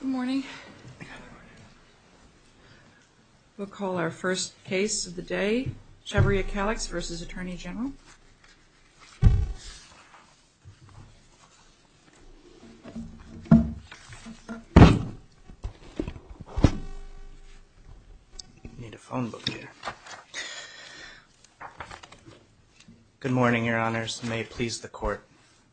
Good morning. We'll call our first case of the day, Chavarria-Calix v. Attorney General. I need a phone book here. Good morning, Your Honors. May it please the Court,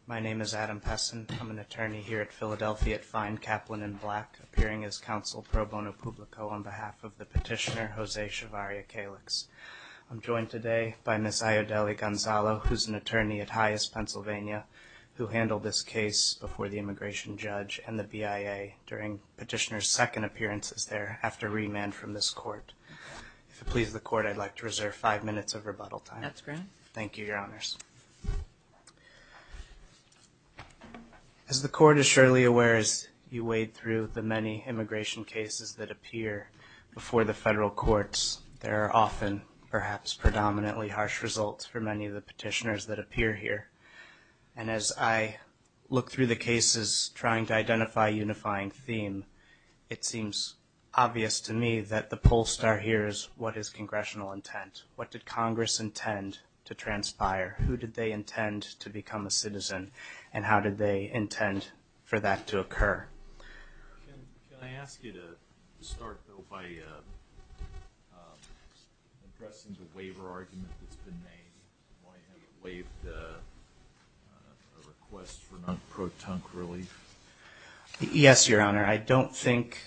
my name is Adam Pessin. I'm an attorney here at Philadelphia at Fine, Kaplan & Black, appearing as counsel pro bono publico on behalf of the petitioner, Jose Chavarria-Calix. I'm joined today by Ms. Ayodele Gonzalo, who's an attorney at HIAS Pennsylvania, who handled this case before the immigration judge and the BIA during petitioner's second appearances there after remand from this Court. If it please the Court, I'd like to reserve five minutes of rebuttal time. That's great. Thank you, Your Honors. As the Court is surely aware, as you wade through the many immigration cases that appear before the federal courts, there are often, perhaps, predominantly harsh results for many of the petitioners that appear here. And as I look through the cases, trying to identify a unifying theme, it seems obvious to me that the poll star here is, what is congressional intent? What did Congress intend to transpire? Who did they intend to become a citizen? And how did they intend for that to occur? Can I ask you to start, though, by addressing the waiver argument that's been made? Why have you waived a request for non-pro-tunk relief? Yes, Your Honor. I don't think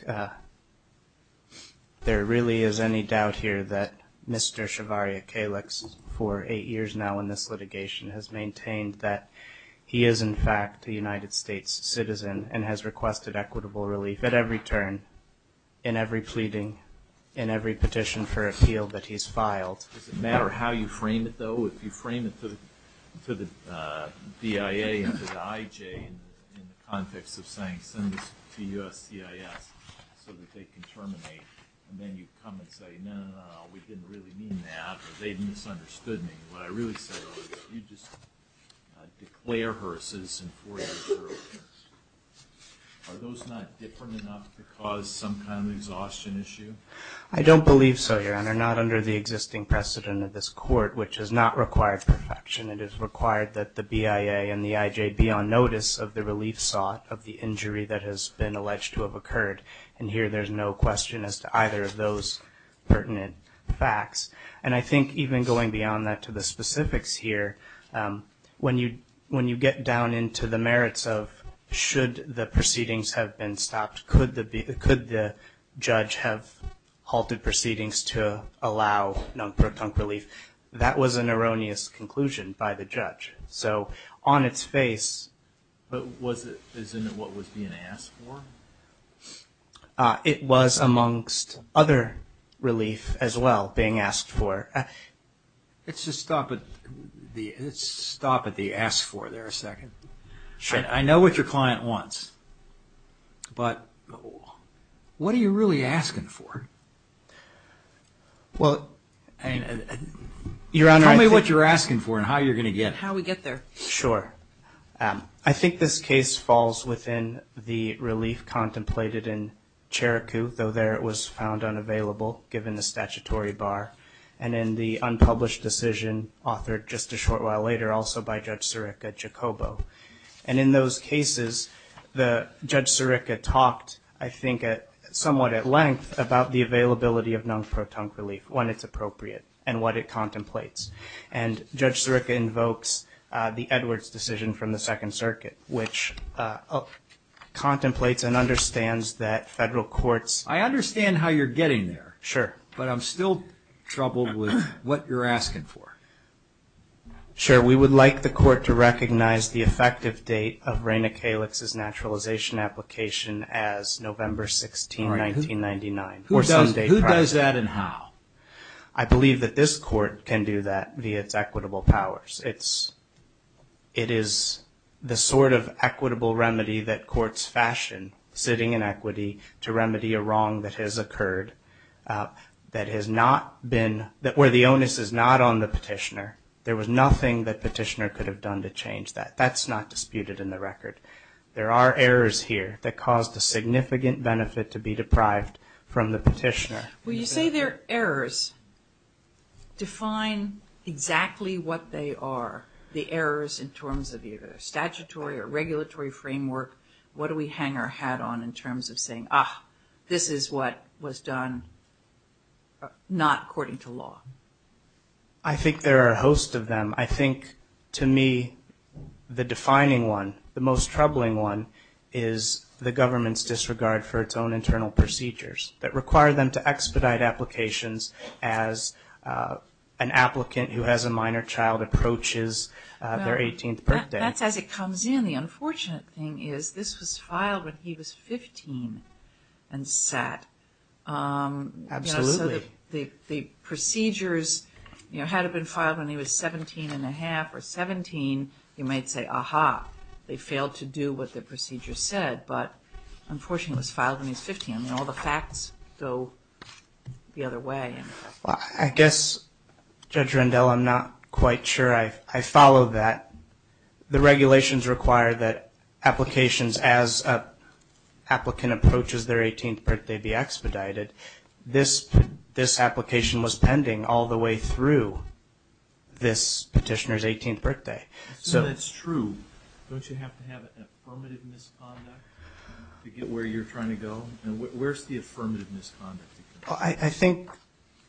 there really is any doubt here that Mr. Shavari Akalex, for eight years now in this litigation, has maintained that he is, in fact, a United States citizen and has requested equitable relief at every turn, in every pleading, in every petition for appeal that he's filed. Does it matter how you frame it, though? If you frame it to the BIA and to the IJ in the context of saying, send this to USCIS so that they can terminate, and then you come and say, no, no, no, we didn't really mean that, or they misunderstood me. What I really said was, you just declare her a citizen for your federal interest. Are those not different enough to cause some kind of exhaustion issue? I don't believe so, Your Honor. Not under the existing precedent of this Court, which does not require perfection. It is required that the BIA and the IJ be on notice of the relief sought of the injury that has been alleged to have occurred. And here there's no question as to either of those pertinent facts. And I think even going beyond that to the specifics here, when you get down into the merits of should the proceedings have been stopped, could the judge have halted proceedings to allow non-protunct relief, that was an erroneous conclusion by the judge. So on its face... But wasn't it what was being asked for? It was amongst other relief as well being asked for. Let's just stop at the ask for there a second. Sure. I know what your client wants, but what are you really asking for? Well, Your Honor... Tell me what you're asking for and how you're going to get it. How we get there. Sure. I think this case falls within the relief contemplated in Cherokee, though there it was found unavailable given the statutory bar, and in the unpublished decision authored just a short while later also by Judge Sirica, Jacobo. And in those cases, Judge Sirica talked I think somewhat at length about the availability of non-protunct relief when it's appropriate and what it contemplates. And Judge Sirica invokes the Edwards decision from the Second Circuit, which contemplates and understands that federal courts... I understand how you're getting there. Sure. But I'm still troubled with what you're asking for. Sure. We would like the court to recognize the effective date of Raina Kalix's naturalization application as November 16, 1999. Who does that and how? I believe that this court can do that via its equitable powers. It is the sort of equitable remedy that courts fashion sitting in equity to remedy a wrong that has occurred that has not been... where the onus is not on the petitioner. There was nothing that petitioner could have done to change that. That's not disputed in the record. There are errors here that caused a significant benefit to be deprived from the petitioner. Well, you say they're errors. Define exactly what they are, the errors in terms of either statutory or regulatory framework. What do we hang our hat on in terms of saying, ah, this is what was done not according to law? I think there are a host of them. I think, to me, the defining one, the most troubling one, is the government's disregard for its own internal procedures that require them to expedite applications as an applicant who has a minor child approaches their 18th birthday. That's as it comes in. The unfortunate thing is this was filed when he was 15 and sat. Absolutely. So the procedures, you know, had it been filed when he was 17 and a half or 17, you might say, aha, they failed to do what the procedure said. But unfortunately, it was filed when he was 15. I mean, all the facts go the other way. I guess, Judge Rendell, I'm not quite sure I follow that. The regulations require that applications as an applicant approaches their 18th birthday be expedited. This application was pending all the way through this petitioner's 18th birthday. I assume that's true. Don't you have to have an affirmative misconduct to get where you're trying to go? And where's the affirmative misconduct? I think,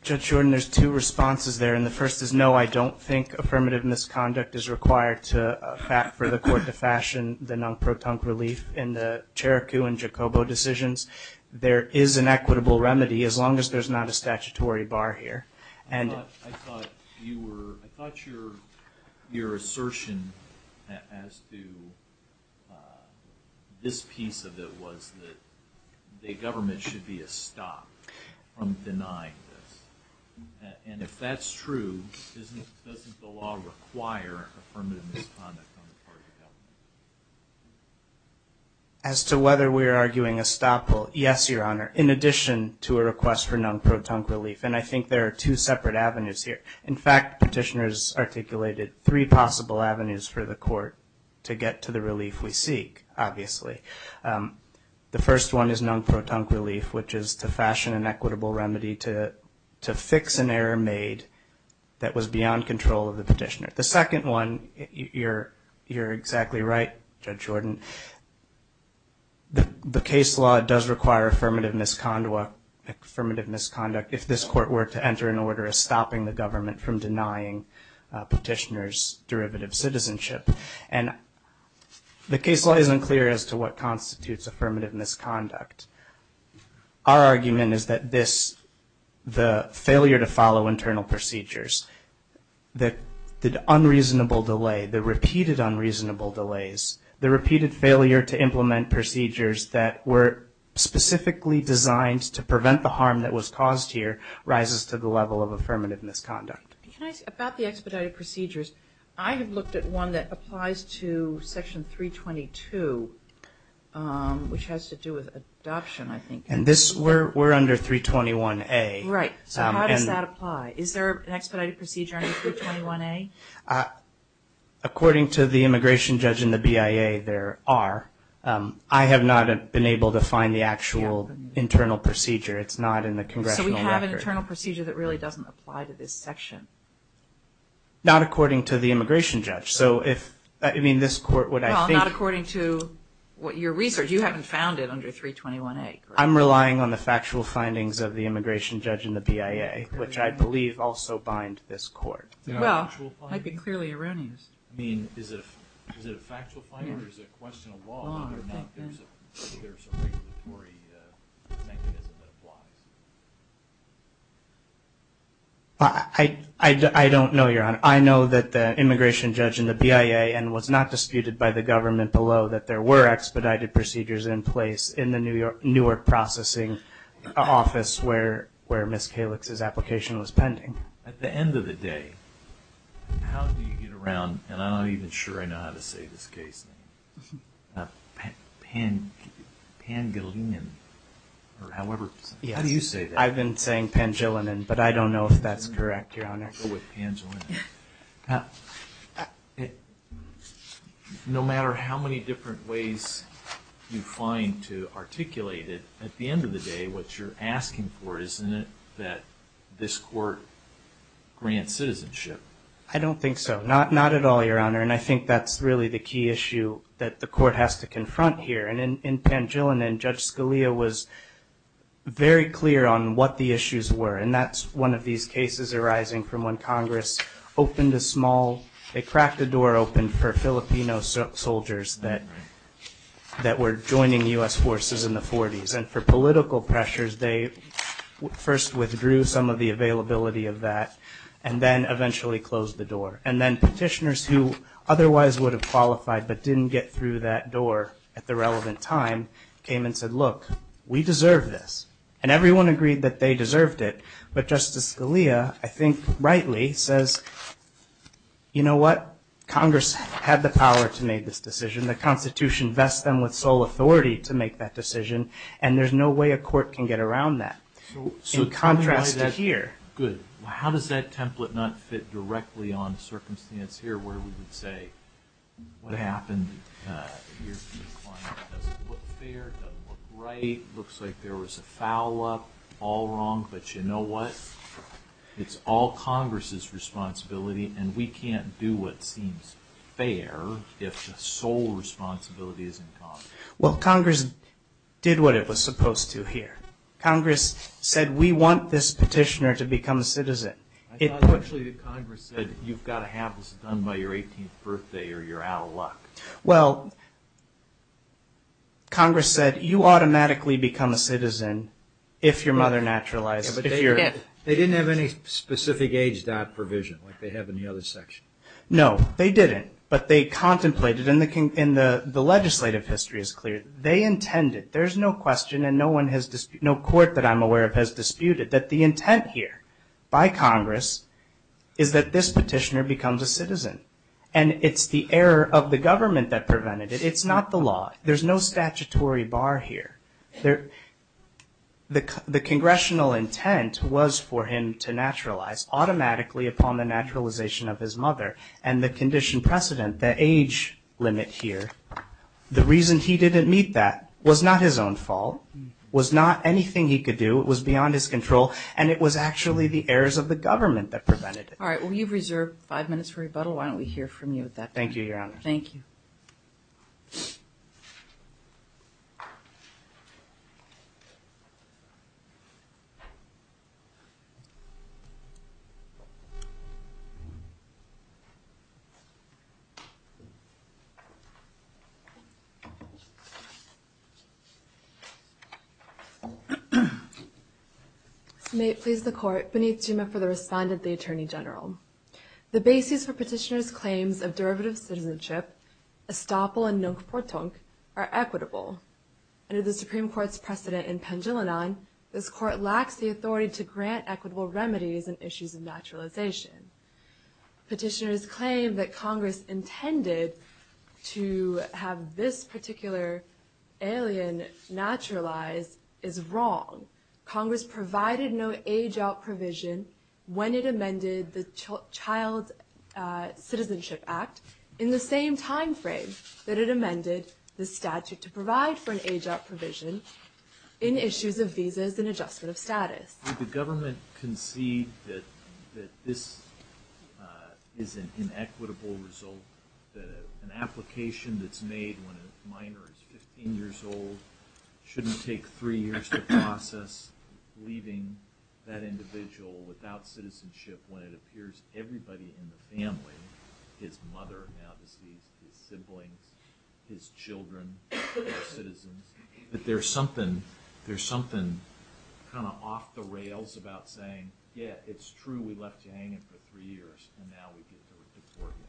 Judge Jordan, there's two responses there. And the first is, no, I don't think affirmative misconduct is required for the court to fashion the non-protunct relief in the Cherokee and Jacobo decisions. There is an equitable remedy as long as there's not a statutory bar here. I thought your assertion as to this piece of it was that the government should be a stop from denying this. And if that's true, doesn't the law require affirmative misconduct on the part of the government? As to whether we're arguing a stop, well, yes, Your Honor, in addition to a request for non-protunct relief. And I think there are two separate avenues here. In fact, petitioners articulated three possible avenues for the court to get to the relief we seek, obviously. The first one is non-protunct relief, which is to fashion an equitable remedy to fix an error made that was beyond control of the petitioner. The second one, you're exactly right, Judge Jordan, the case law does require affirmative misconduct if this court were to enter an order of stopping the government from denying petitioners derivative citizenship. And the case law isn't clear as to what constitutes affirmative misconduct. Our argument is that this, the failure to follow internal procedures, the unreasonable delay, the repeated unreasonable delays, the repeated failure to implement procedures that were specifically designed to prevent the harm that was caused here rises to the level of affirmative misconduct. About the expedited procedures, I have looked at one that applies to Section 322, which has to do with adoption, I think. And this, we're under 321A. Right. So how does that apply? Is there an expedited procedure under 321A? According to the immigration judge and the BIA, there are. I have not been able to find the actual internal procedure. It's not in the congressional record. So you have an internal procedure that really doesn't apply to this section? Not according to the immigration judge. So if, I mean, this court would I think Well, not according to your research. You haven't found it under 321A. I'm relying on the factual findings of the immigration judge and the BIA, which I believe also bind this court. Well, that would be clearly erroneous. I mean, is it a factual finding or is it a question of law? There's a regulatory mechanism that applies. I don't know, Your Honor. I know that the immigration judge and the BIA, and was not disputed by the government below, that there were expedited procedures in place in the New York processing office where Ms. Kalix's application was pending. At the end of the day, how do you get around, and I'm not even sure I know how to say this case name, Pangilinan, or however, how do you say that? I've been saying Pangilinan, but I don't know if that's correct, Your Honor. No matter how many different ways you find to articulate it, at the end of the day, what you're asking for isn't it that this court grants citizenship? I don't think so. Not at all, Your Honor. And I think that's really the key issue that the court has to confront here. And in Pangilinan, Judge Scalia was very clear on what the issues were, and that's one of these cases arising from when Congress opened a small, they cracked a door open for Filipino soldiers that were joining U.S. forces in the 40s. And for political pressures, they first withdrew some of the availability of that, and then eventually closed the door. And then petitioners who otherwise would have qualified but didn't get through that door at the relevant time came and said, look, we deserve this. And everyone agreed that they deserved it. But Justice Scalia, I think rightly, says, you know what? Congress had the power to make this decision. The Constitution vests them with sole authority to make that decision, and there's no way a court can get around that. In contrast to here. Good. How does that template not fit directly on the circumstance here where we would say what happened here doesn't look fair, doesn't look right, looks like there was a foul-up, all wrong, but you know what? It's all Congress's responsibility, and we can't do what seems fair if the sole responsibility is in Congress. Well, Congress did what it was supposed to here. Congress said, we want this petitioner to become a citizen. Unfortunately, Congress said, you've got to have this done by your 18th birthday or you're out of luck. Well, Congress said, you automatically become a citizen if your mother naturalized. They didn't have any specific age dot provision like they have in the other section. No, they didn't. But they contemplated, and the legislative history is clear. They intended. There's no question and no court that I'm aware of has disputed that the intent here by Congress is that this petitioner becomes a citizen. And it's the error of the government that prevented it. It's not the law. There's no statutory bar here. The congressional intent was for him to naturalize automatically upon the naturalization of his mother and the condition precedent, the age limit here. The reason he didn't meet that was not his own fault, was not anything he could do. It was beyond his control. And it was actually the errors of the government that prevented it. All right. Well, you've reserved five minutes for rebuttal. Why don't we hear from you at that point? Thank you, Your Honor. Thank you. May it please the Court. Benit Jima for the respondent, the Attorney General. The basis for petitioner's claims of derivative citizenship, estoppel and nung portung, are equitable. Under the Supreme Court's precedent in Pendulina, this Court lacks the authority to grant equitable remedies in issues of naturalization. Petitioner's claim that Congress intended to have this particular alien naturalized is wrong. Congress provided no age-out provision when it amended the Child Citizenship Act in the same time frame that it amended the statute to provide for an age-out provision in issues of visas and adjustment of status. Did the government concede that this is an inequitable result, that an application that's made when a minor is 15 years old shouldn't take three years to process, leaving that individual without citizenship when it appears everybody in the family, his mother now deceased, his siblings, his children, their citizens, that there's something kind of off the rails about saying, yeah, it's true, we left you hanging for three years, and now we get to deport you?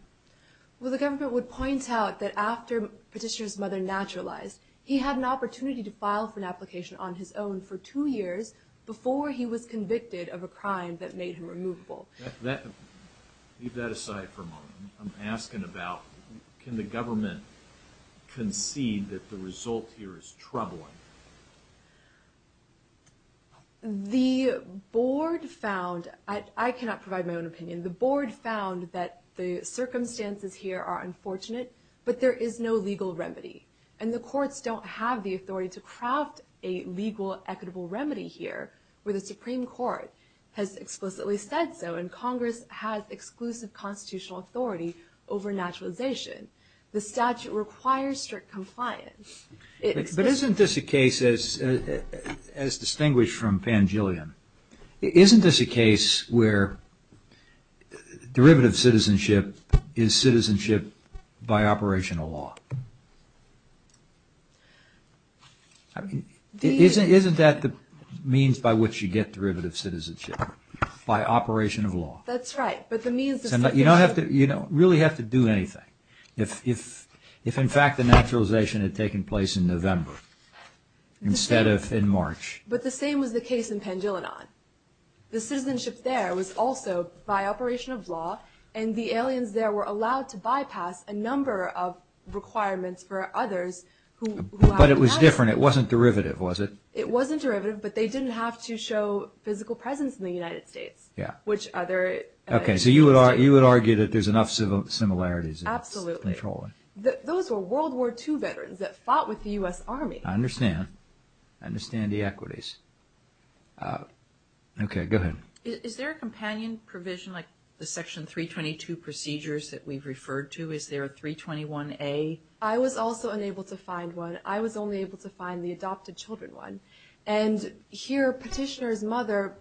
Well, the government would point out that after petitioner's mother naturalized, he had an opportunity to file for an application on his own for two years before he was convicted of a crime that made him removable. Leave that aside for a moment. I'm asking about, can the government concede that the result here is troubling? The board found, I cannot provide my own opinion, the board found that the circumstances here are unfortunate, but there is no legal remedy. And the courts don't have the authority to craft a legal, equitable remedy here, where the Supreme Court has explicitly said so, and Congress has exclusive constitutional authority over naturalization. The statute requires strict compliance. But isn't this a case, as distinguished from Pangellion, isn't this a case where derivative citizenship is citizenship by operational law? Isn't that the means by which you get derivative citizenship, by operation of law? That's right, but the means... You don't really have to do anything. If in fact the naturalization had taken place in November, instead of in March. But the same was the case in Pangellion. The citizenship there was also by operation of law, and the aliens there were allowed to bypass a number of requirements for others who... But it was different, it wasn't derivative, was it? It wasn't derivative, but they didn't have to show physical presence in the United States. Yeah. Which other... Okay, so you would argue that there's enough similarities. Absolutely. Those were World War II veterans that fought with the U.S. Army. I understand. I understand the equities. Okay, go ahead. Is there a companion provision like the Section 322 procedures that we've referred to? Is there a 321A? I was also unable to find one. I was only able to find the adopted children one. And here, Petitioner's mother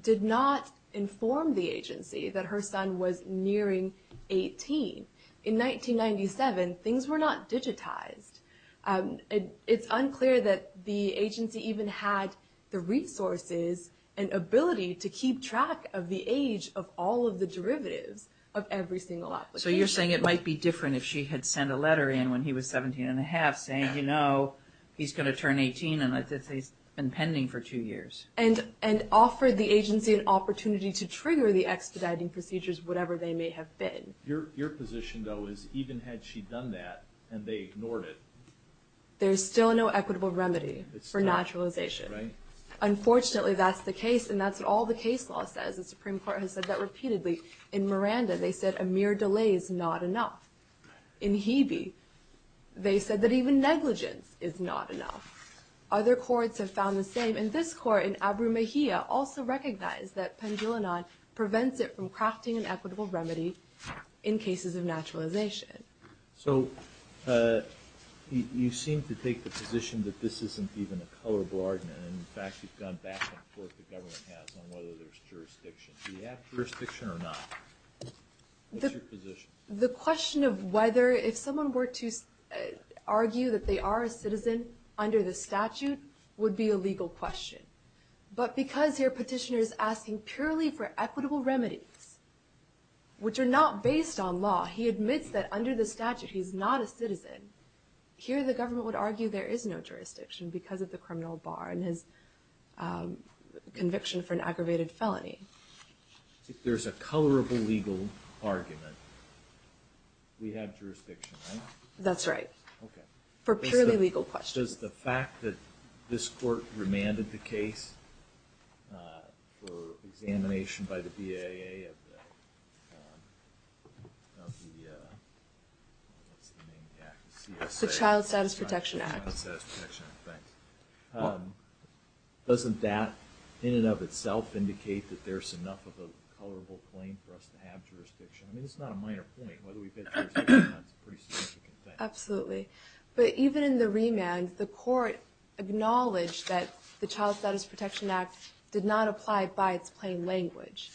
did not inform the agency that her son was nearing 18. In 1997, things were not digitized. It's unclear that the agency even had the resources and ability to keep track of the age of all of the derivatives of every single application. So you're saying it might be different if she had sent a letter in when he was 17 1⁄2 saying, you know, he's going to turn 18 and that he's been pending for two years. And offered the agency an opportunity to trigger the expediting procedures, whatever they may have been. Your position, though, is even had she done that and they ignored it. There's still no equitable remedy for naturalization. Right. Unfortunately, that's the case. And that's what all the case law says. The Supreme Court has said that repeatedly. In Miranda, they said a mere delay is not enough. In Hebe, they said that even negligence is not enough. Other courts have found the same. And this court, in Abu Mehiya, also recognized that pendulonon prevents it from crafting an equitable remedy in cases of naturalization. So you seem to take the position that this isn't even a colorable argument. In fact, you've gone back and forth, the government has, on whether there's jurisdiction. Do you have jurisdiction or not? What's your position? The question of whether if someone were to argue that they are a citizen under the statute would be a legal question. But because your petitioner is asking purely for equitable remedies, which are not based on law, he admits that under the statute he's not a citizen. Here the government would argue there is no jurisdiction because of the criminal bar and his conviction for an aggravated felony. If there's a colorable legal argument, we have jurisdiction, right? That's right. Okay. For purely legal questions. Just the fact that this court remanded the case for examination by the BAA of the Child Status Protection Act. Doesn't that, in and of itself, indicate that there's enough of a colorable claim for us to have jurisdiction? I mean, it's not a minor point. Whether we've had jurisdiction or not is a pretty significant thing. Absolutely. But even in the remand, the court acknowledged that the Child Status Protection Act did not apply by its plain language.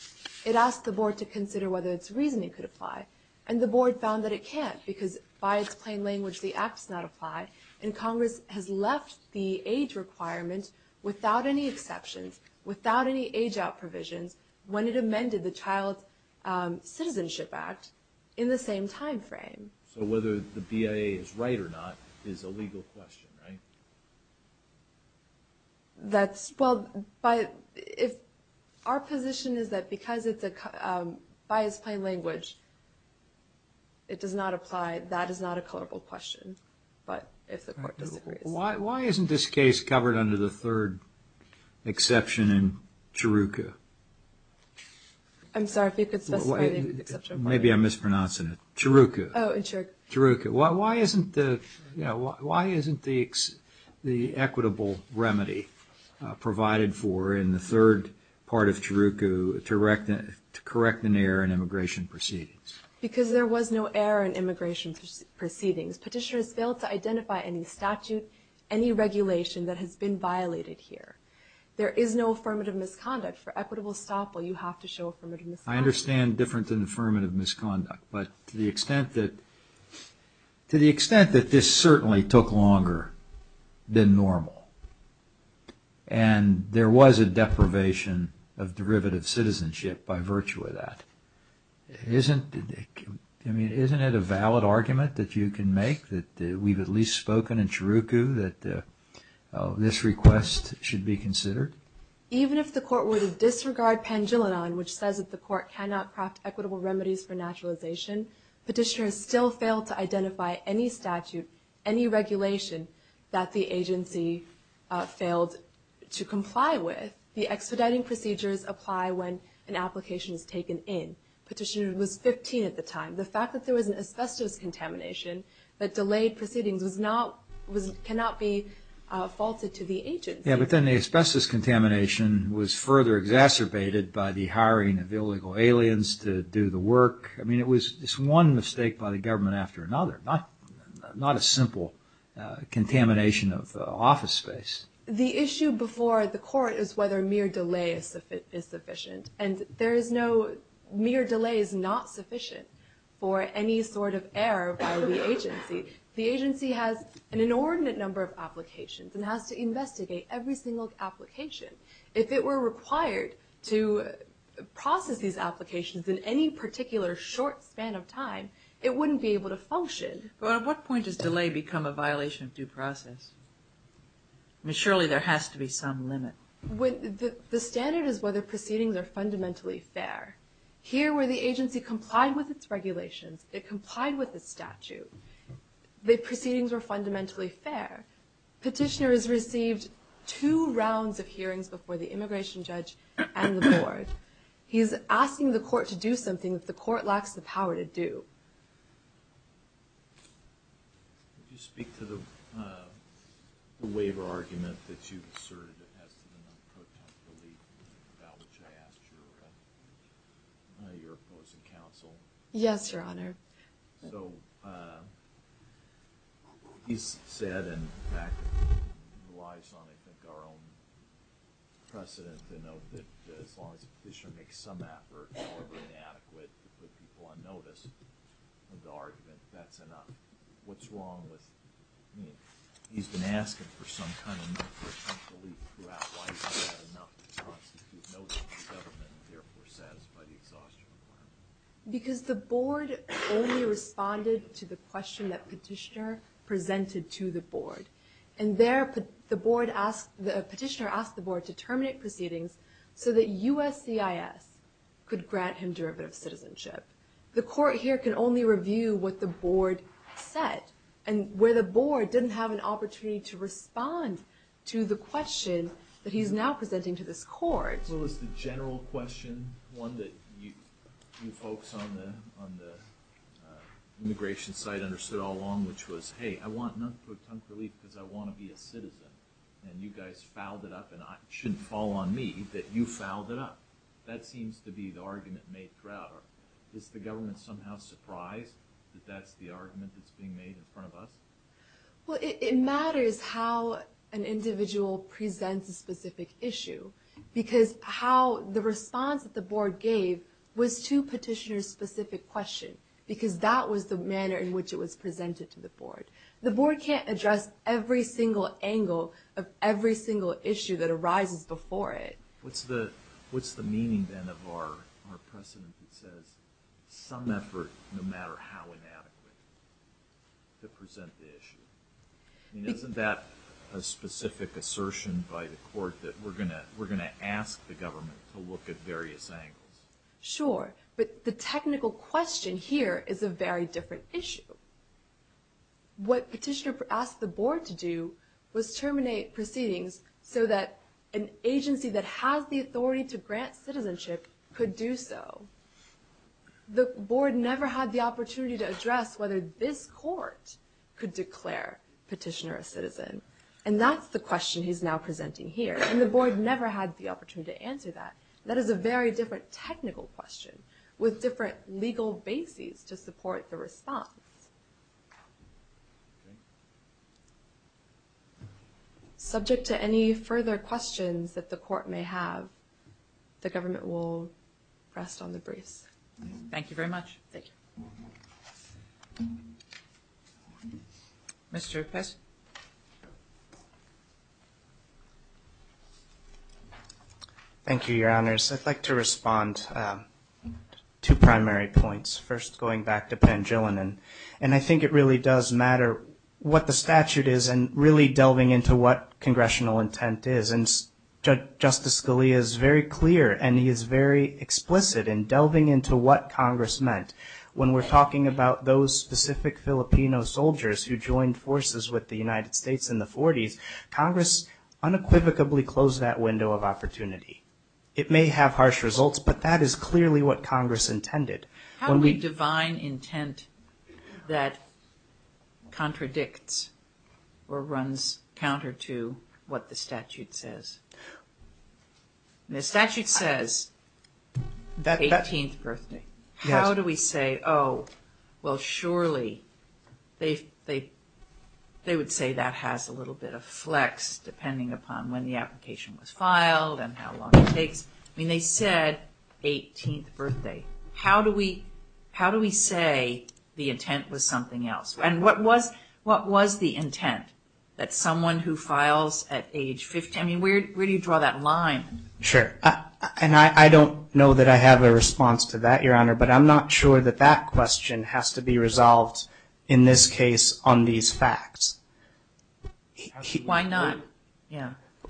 It asked the board to consider whether its reasoning could apply. And the board found that it can't because by its plain language the act does not apply. And Congress has left the age requirement without any exceptions, without any age-out provisions, when it amended the Child Citizenship Act in the same time frame. So whether the BAA is right or not is a legal question, right? Well, our position is that because it's by its plain language, it does not apply. That is not a colorable question. But if the court disagrees. Why isn't this case covered under the third exception in CHRUCA? I'm sorry, if you could specify the exception. Maybe I'm mispronouncing it. CHRUCA. Oh, in CHRUCA. CHRUCA. Why isn't the equitable remedy provided for in the third part of CHRUCA to correct an error in immigration proceedings? Because there was no error in immigration proceedings. Petitioners failed to identify any statute, any regulation that has been violated here. There is no affirmative misconduct. For equitable estoppel, you have to show affirmative misconduct. I understand different than affirmative misconduct. But to the extent that this certainly took longer than normal, and there was a deprivation of derivative citizenship by virtue of that, isn't it a valid argument that you can make that we've at least spoken in CHRUCA that this request should be considered? Even if the court were to disregard pangilinan, which says that the court cannot craft equitable remedies for naturalization, petitioners still failed to identify any statute, any regulation that the agency failed to comply with. The expediting procedures apply when an application is taken in. Petitioner was 15 at the time. The fact that there was an asbestos contamination that delayed proceedings cannot be faulted to the agency. Yeah, but then the asbestos contamination was further exacerbated by the hiring of illegal aliens to do the work. I mean, it was just one mistake by the government after another, not a simple contamination of office space. The issue before the court is whether mere delay is sufficient. And there is no mere delay is not sufficient for any sort of error by the agency. The agency has an inordinate number of applications and has to investigate every single application. If it were required to process these applications in any particular short span of time, it wouldn't be able to function. But at what point does delay become a violation of due process? I mean, surely there has to be some limit. The standard is whether proceedings are fundamentally fair. Here, where the agency complied with its regulations, it complied with its statute, the proceedings were fundamentally fair. Petitioner has received two rounds of hearings before the immigration judge and the board. He is asking the court to do something that the court lacks the power to do. Did you speak to the waiver argument that you asserted as to the non-protect belief about which I asked your opposing counsel? Yes, Your Honor. So he's said and, in fact, relies on, I think, our own precedent to note that as long as a petitioner makes some effort, however inadequate, to put people on notice of the argument, that's enough. What's wrong with—I mean, he's been asking for some kind of non-protective belief throughout why it's not enough to constitute notice to the government and therefore satisfy the exhaustion requirement. Because the board only responded to the question that petitioner presented to the board. And there, the petitioner asked the board to terminate proceedings so that USCIS could grant him derivative citizenship. The court here can only review what the board said. And where the board didn't have an opportunity to respond to the question that he's now presenting to this court— What was the general question, one that you folks on the immigration side understood all along, which was, hey, I want non-protective belief because I want to be a citizen. And you guys fouled it up, and it shouldn't fall on me that you fouled it up. That seems to be the argument made throughout. Is the government somehow surprised that that's the argument that's being made in front of us? Well, it matters how an individual presents a specific issue. Because the response that the board gave was to petitioner's specific question. Because that was the manner in which it was presented to the board. The board can't address every single angle of every single issue that arises before it. What's the meaning, then, of our precedent that says, some effort, no matter how inadequate, to present the issue? Isn't that a specific assertion by the court that we're going to ask the government to look at various angles? Sure, but the technical question here is a very different issue. What petitioner asked the board to do was terminate proceedings so that an agency that has the authority to grant citizenship could do so. The board never had the opportunity to address whether this court could declare petitioner a citizen. And that's the question he's now presenting here. And the board never had the opportunity to answer that. That is a very different technical question with different legal bases to support the response. Okay. Subject to any further questions that the court may have, the government will rest on the briefs. Thank you very much. Thank you. Mr. Pest? Thank you, Your Honors. I'd like to respond to primary points. First, going back to Pangilinan, and I think it really does matter what the statute is and really delving into what congressional intent is. And Justice Scalia is very clear and he is very explicit in delving into what Congress meant. When we're talking about those specific Filipino soldiers who joined forces with the United States in the 40s, Congress unequivocally closed that window of opportunity. It may have harsh results, but that is clearly what Congress intended. How do we divine intent that contradicts or runs counter to what the statute says? The statute says 18th birthday. How do we say, oh, well, surely they would say that has a little bit of flex depending upon when the application was filed and how long it takes? I mean, they said 18th birthday. How do we say the intent was something else? And what was the intent that someone who files at age 15, I mean, where do you draw that line? Sure, and I don't know that I have a response to that, Your Honor, but I'm not sure that that question has to be resolved in this case on these facts. Why not?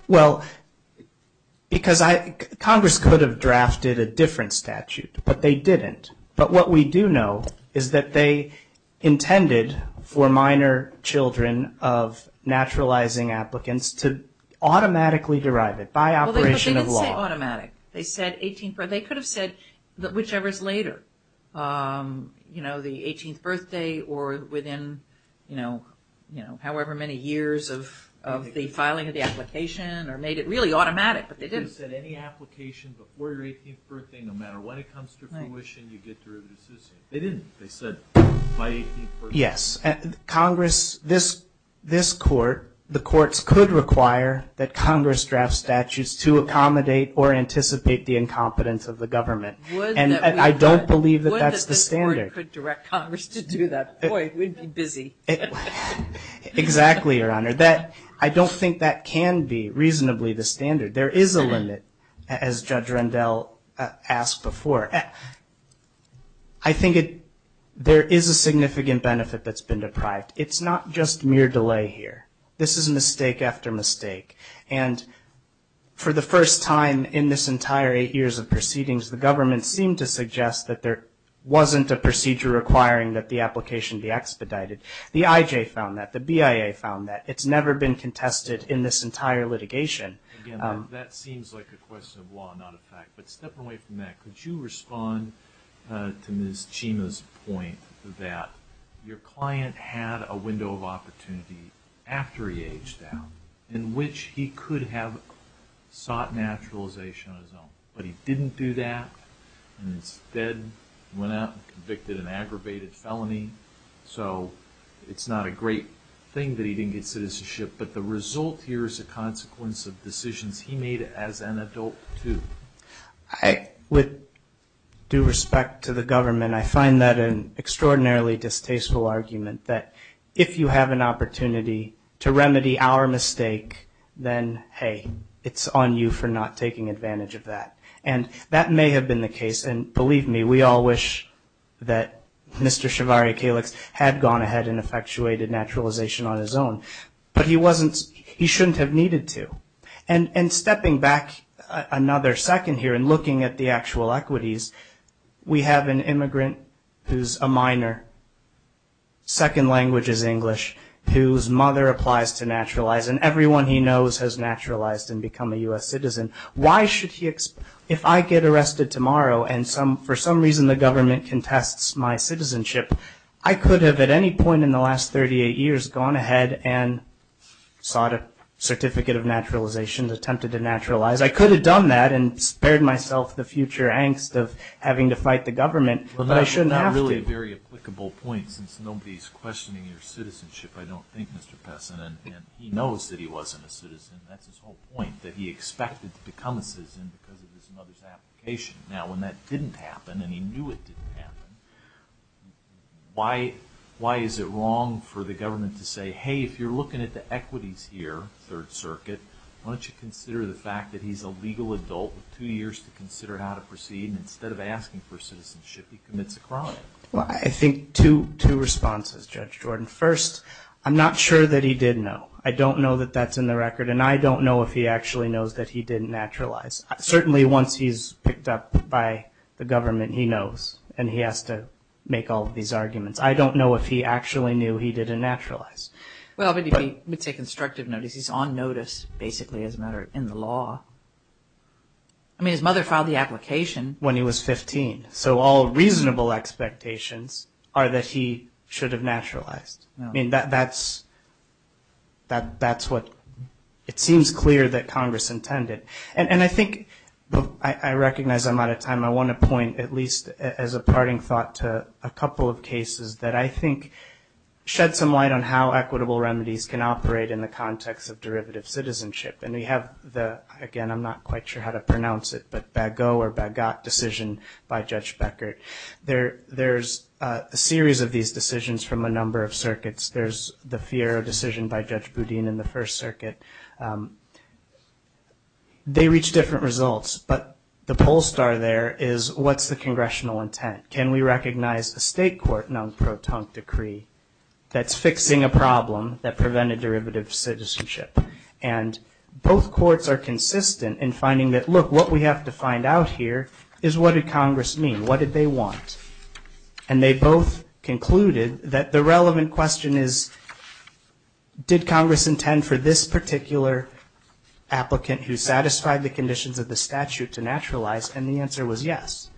Well, because Congress could have drafted a different statute, but they didn't. But what we do know is that they intended for minor children of naturalizing applicants to automatically derive it by operation of law. It's not automatic. They could have said whichever is later, you know, the 18th birthday or within, you know, however many years of the filing of the application or made it really automatic, but they didn't. They didn't say any application before your 18th birthday, no matter when it comes to fruition, you get derivatives. They didn't. Yes, Congress, this court, the courts could require that Congress draft statutes to accommodate or anticipate the incompetence of the government, and I don't believe that that's the standard. Boy, we'd be busy. Exactly, Your Honor. I don't think that can be reasonably the standard. There is a limit, as Judge Rendell asked before. I think there is a significant benefit that's been deprived. It's not just mere delay here. This is mistake after mistake, and for the first time in this entire eight years of proceedings, the government seemed to suggest that there wasn't a procedure requiring that the application be expedited. The IJ found that. The BIA found that. It's never been contested in this entire litigation. Again, that seems like a question of law, not a fact. But step away from that. Could you respond to Ms. Chima's point that your client had a window of opportunity after he aged out in which he could have sought naturalization on his own, but he didn't do that, and instead went out and convicted an aggravated felony. So it's not a great thing that he didn't get citizenship, but the result here is a consequence of decisions he made as an adult, too. With due respect to the government, I find that an extraordinarily distasteful argument that if you have an opportunity to remedy our mistake, then, hey, it's on you for not taking advantage of that. And that may have been the case, and believe me, we all wish that Mr. Chivari-Kalix had gone ahead and effectuated naturalization on his own, but he shouldn't have needed to. And stepping back another second here and looking at the actual equities, we have an immigrant who's a minor, second language is English, whose mother applies to naturalize, and everyone he knows has naturalized and become a U.S. citizen. Why should he, if I get arrested tomorrow and for some reason the government contests my citizenship, I could have at any point in the last 38 years gone ahead and sought a certificate of naturalization and attempted to naturalize. I could have done that and spared myself the future angst of having to fight the government, but I shouldn't have to. Well, that's not really a very applicable point, since nobody's questioning your citizenship, I don't think, Mr. Pessin, and he knows that he wasn't a citizen. That's his whole point, that he expected to become a citizen because of his mother's application. Now, when that didn't happen, and he knew it didn't happen, why is it wrong for the government to say, hey, if you're looking at the equities here, Third Circuit, why don't you consider the fact that he's a legal adult with two years to consider how to proceed, and instead of asking for citizenship, he commits a crime? Well, I think two responses, Judge Jordan. First, I'm not sure that he did know. I don't know that that's in the record, and I don't know if he actually knows that he didn't naturalize. Certainly once he's picked up by the government, he knows, and he has to make all of these arguments. I don't know if he actually knew he didn't naturalize. Well, but he would take constructive notice. He's on notice, basically, as a matter of law. I mean, his mother filed the application when he was 15, so all reasonable expectations are that he should have naturalized. I mean, that's what it seems clear that Congress intended. And I think I recognize I'm out of time. I want to point at least as a parting thought to a couple of cases that I think shed some light on how equitable remedies can operate in the context of derivative citizenship, and we have the, again, I'm not quite sure how to pronounce it, but Bagot decision by Judge Beckert. There's a series of these decisions from a number of circuits. There's the Fiero decision by Judge Boudin in the First Circuit. They reach different results, but the poll star there is what's the congressional intent? Can we recognize a state court non-proton decree that's fixing a problem that prevented derivative citizenship? And both courts are consistent in finding that, look, what we have to find out here is what did Congress mean? What did they want? And they both concluded that the relevant question is did Congress intend for this particular applicant who satisfied the conditions of the statute to naturalize? And the answer was yes.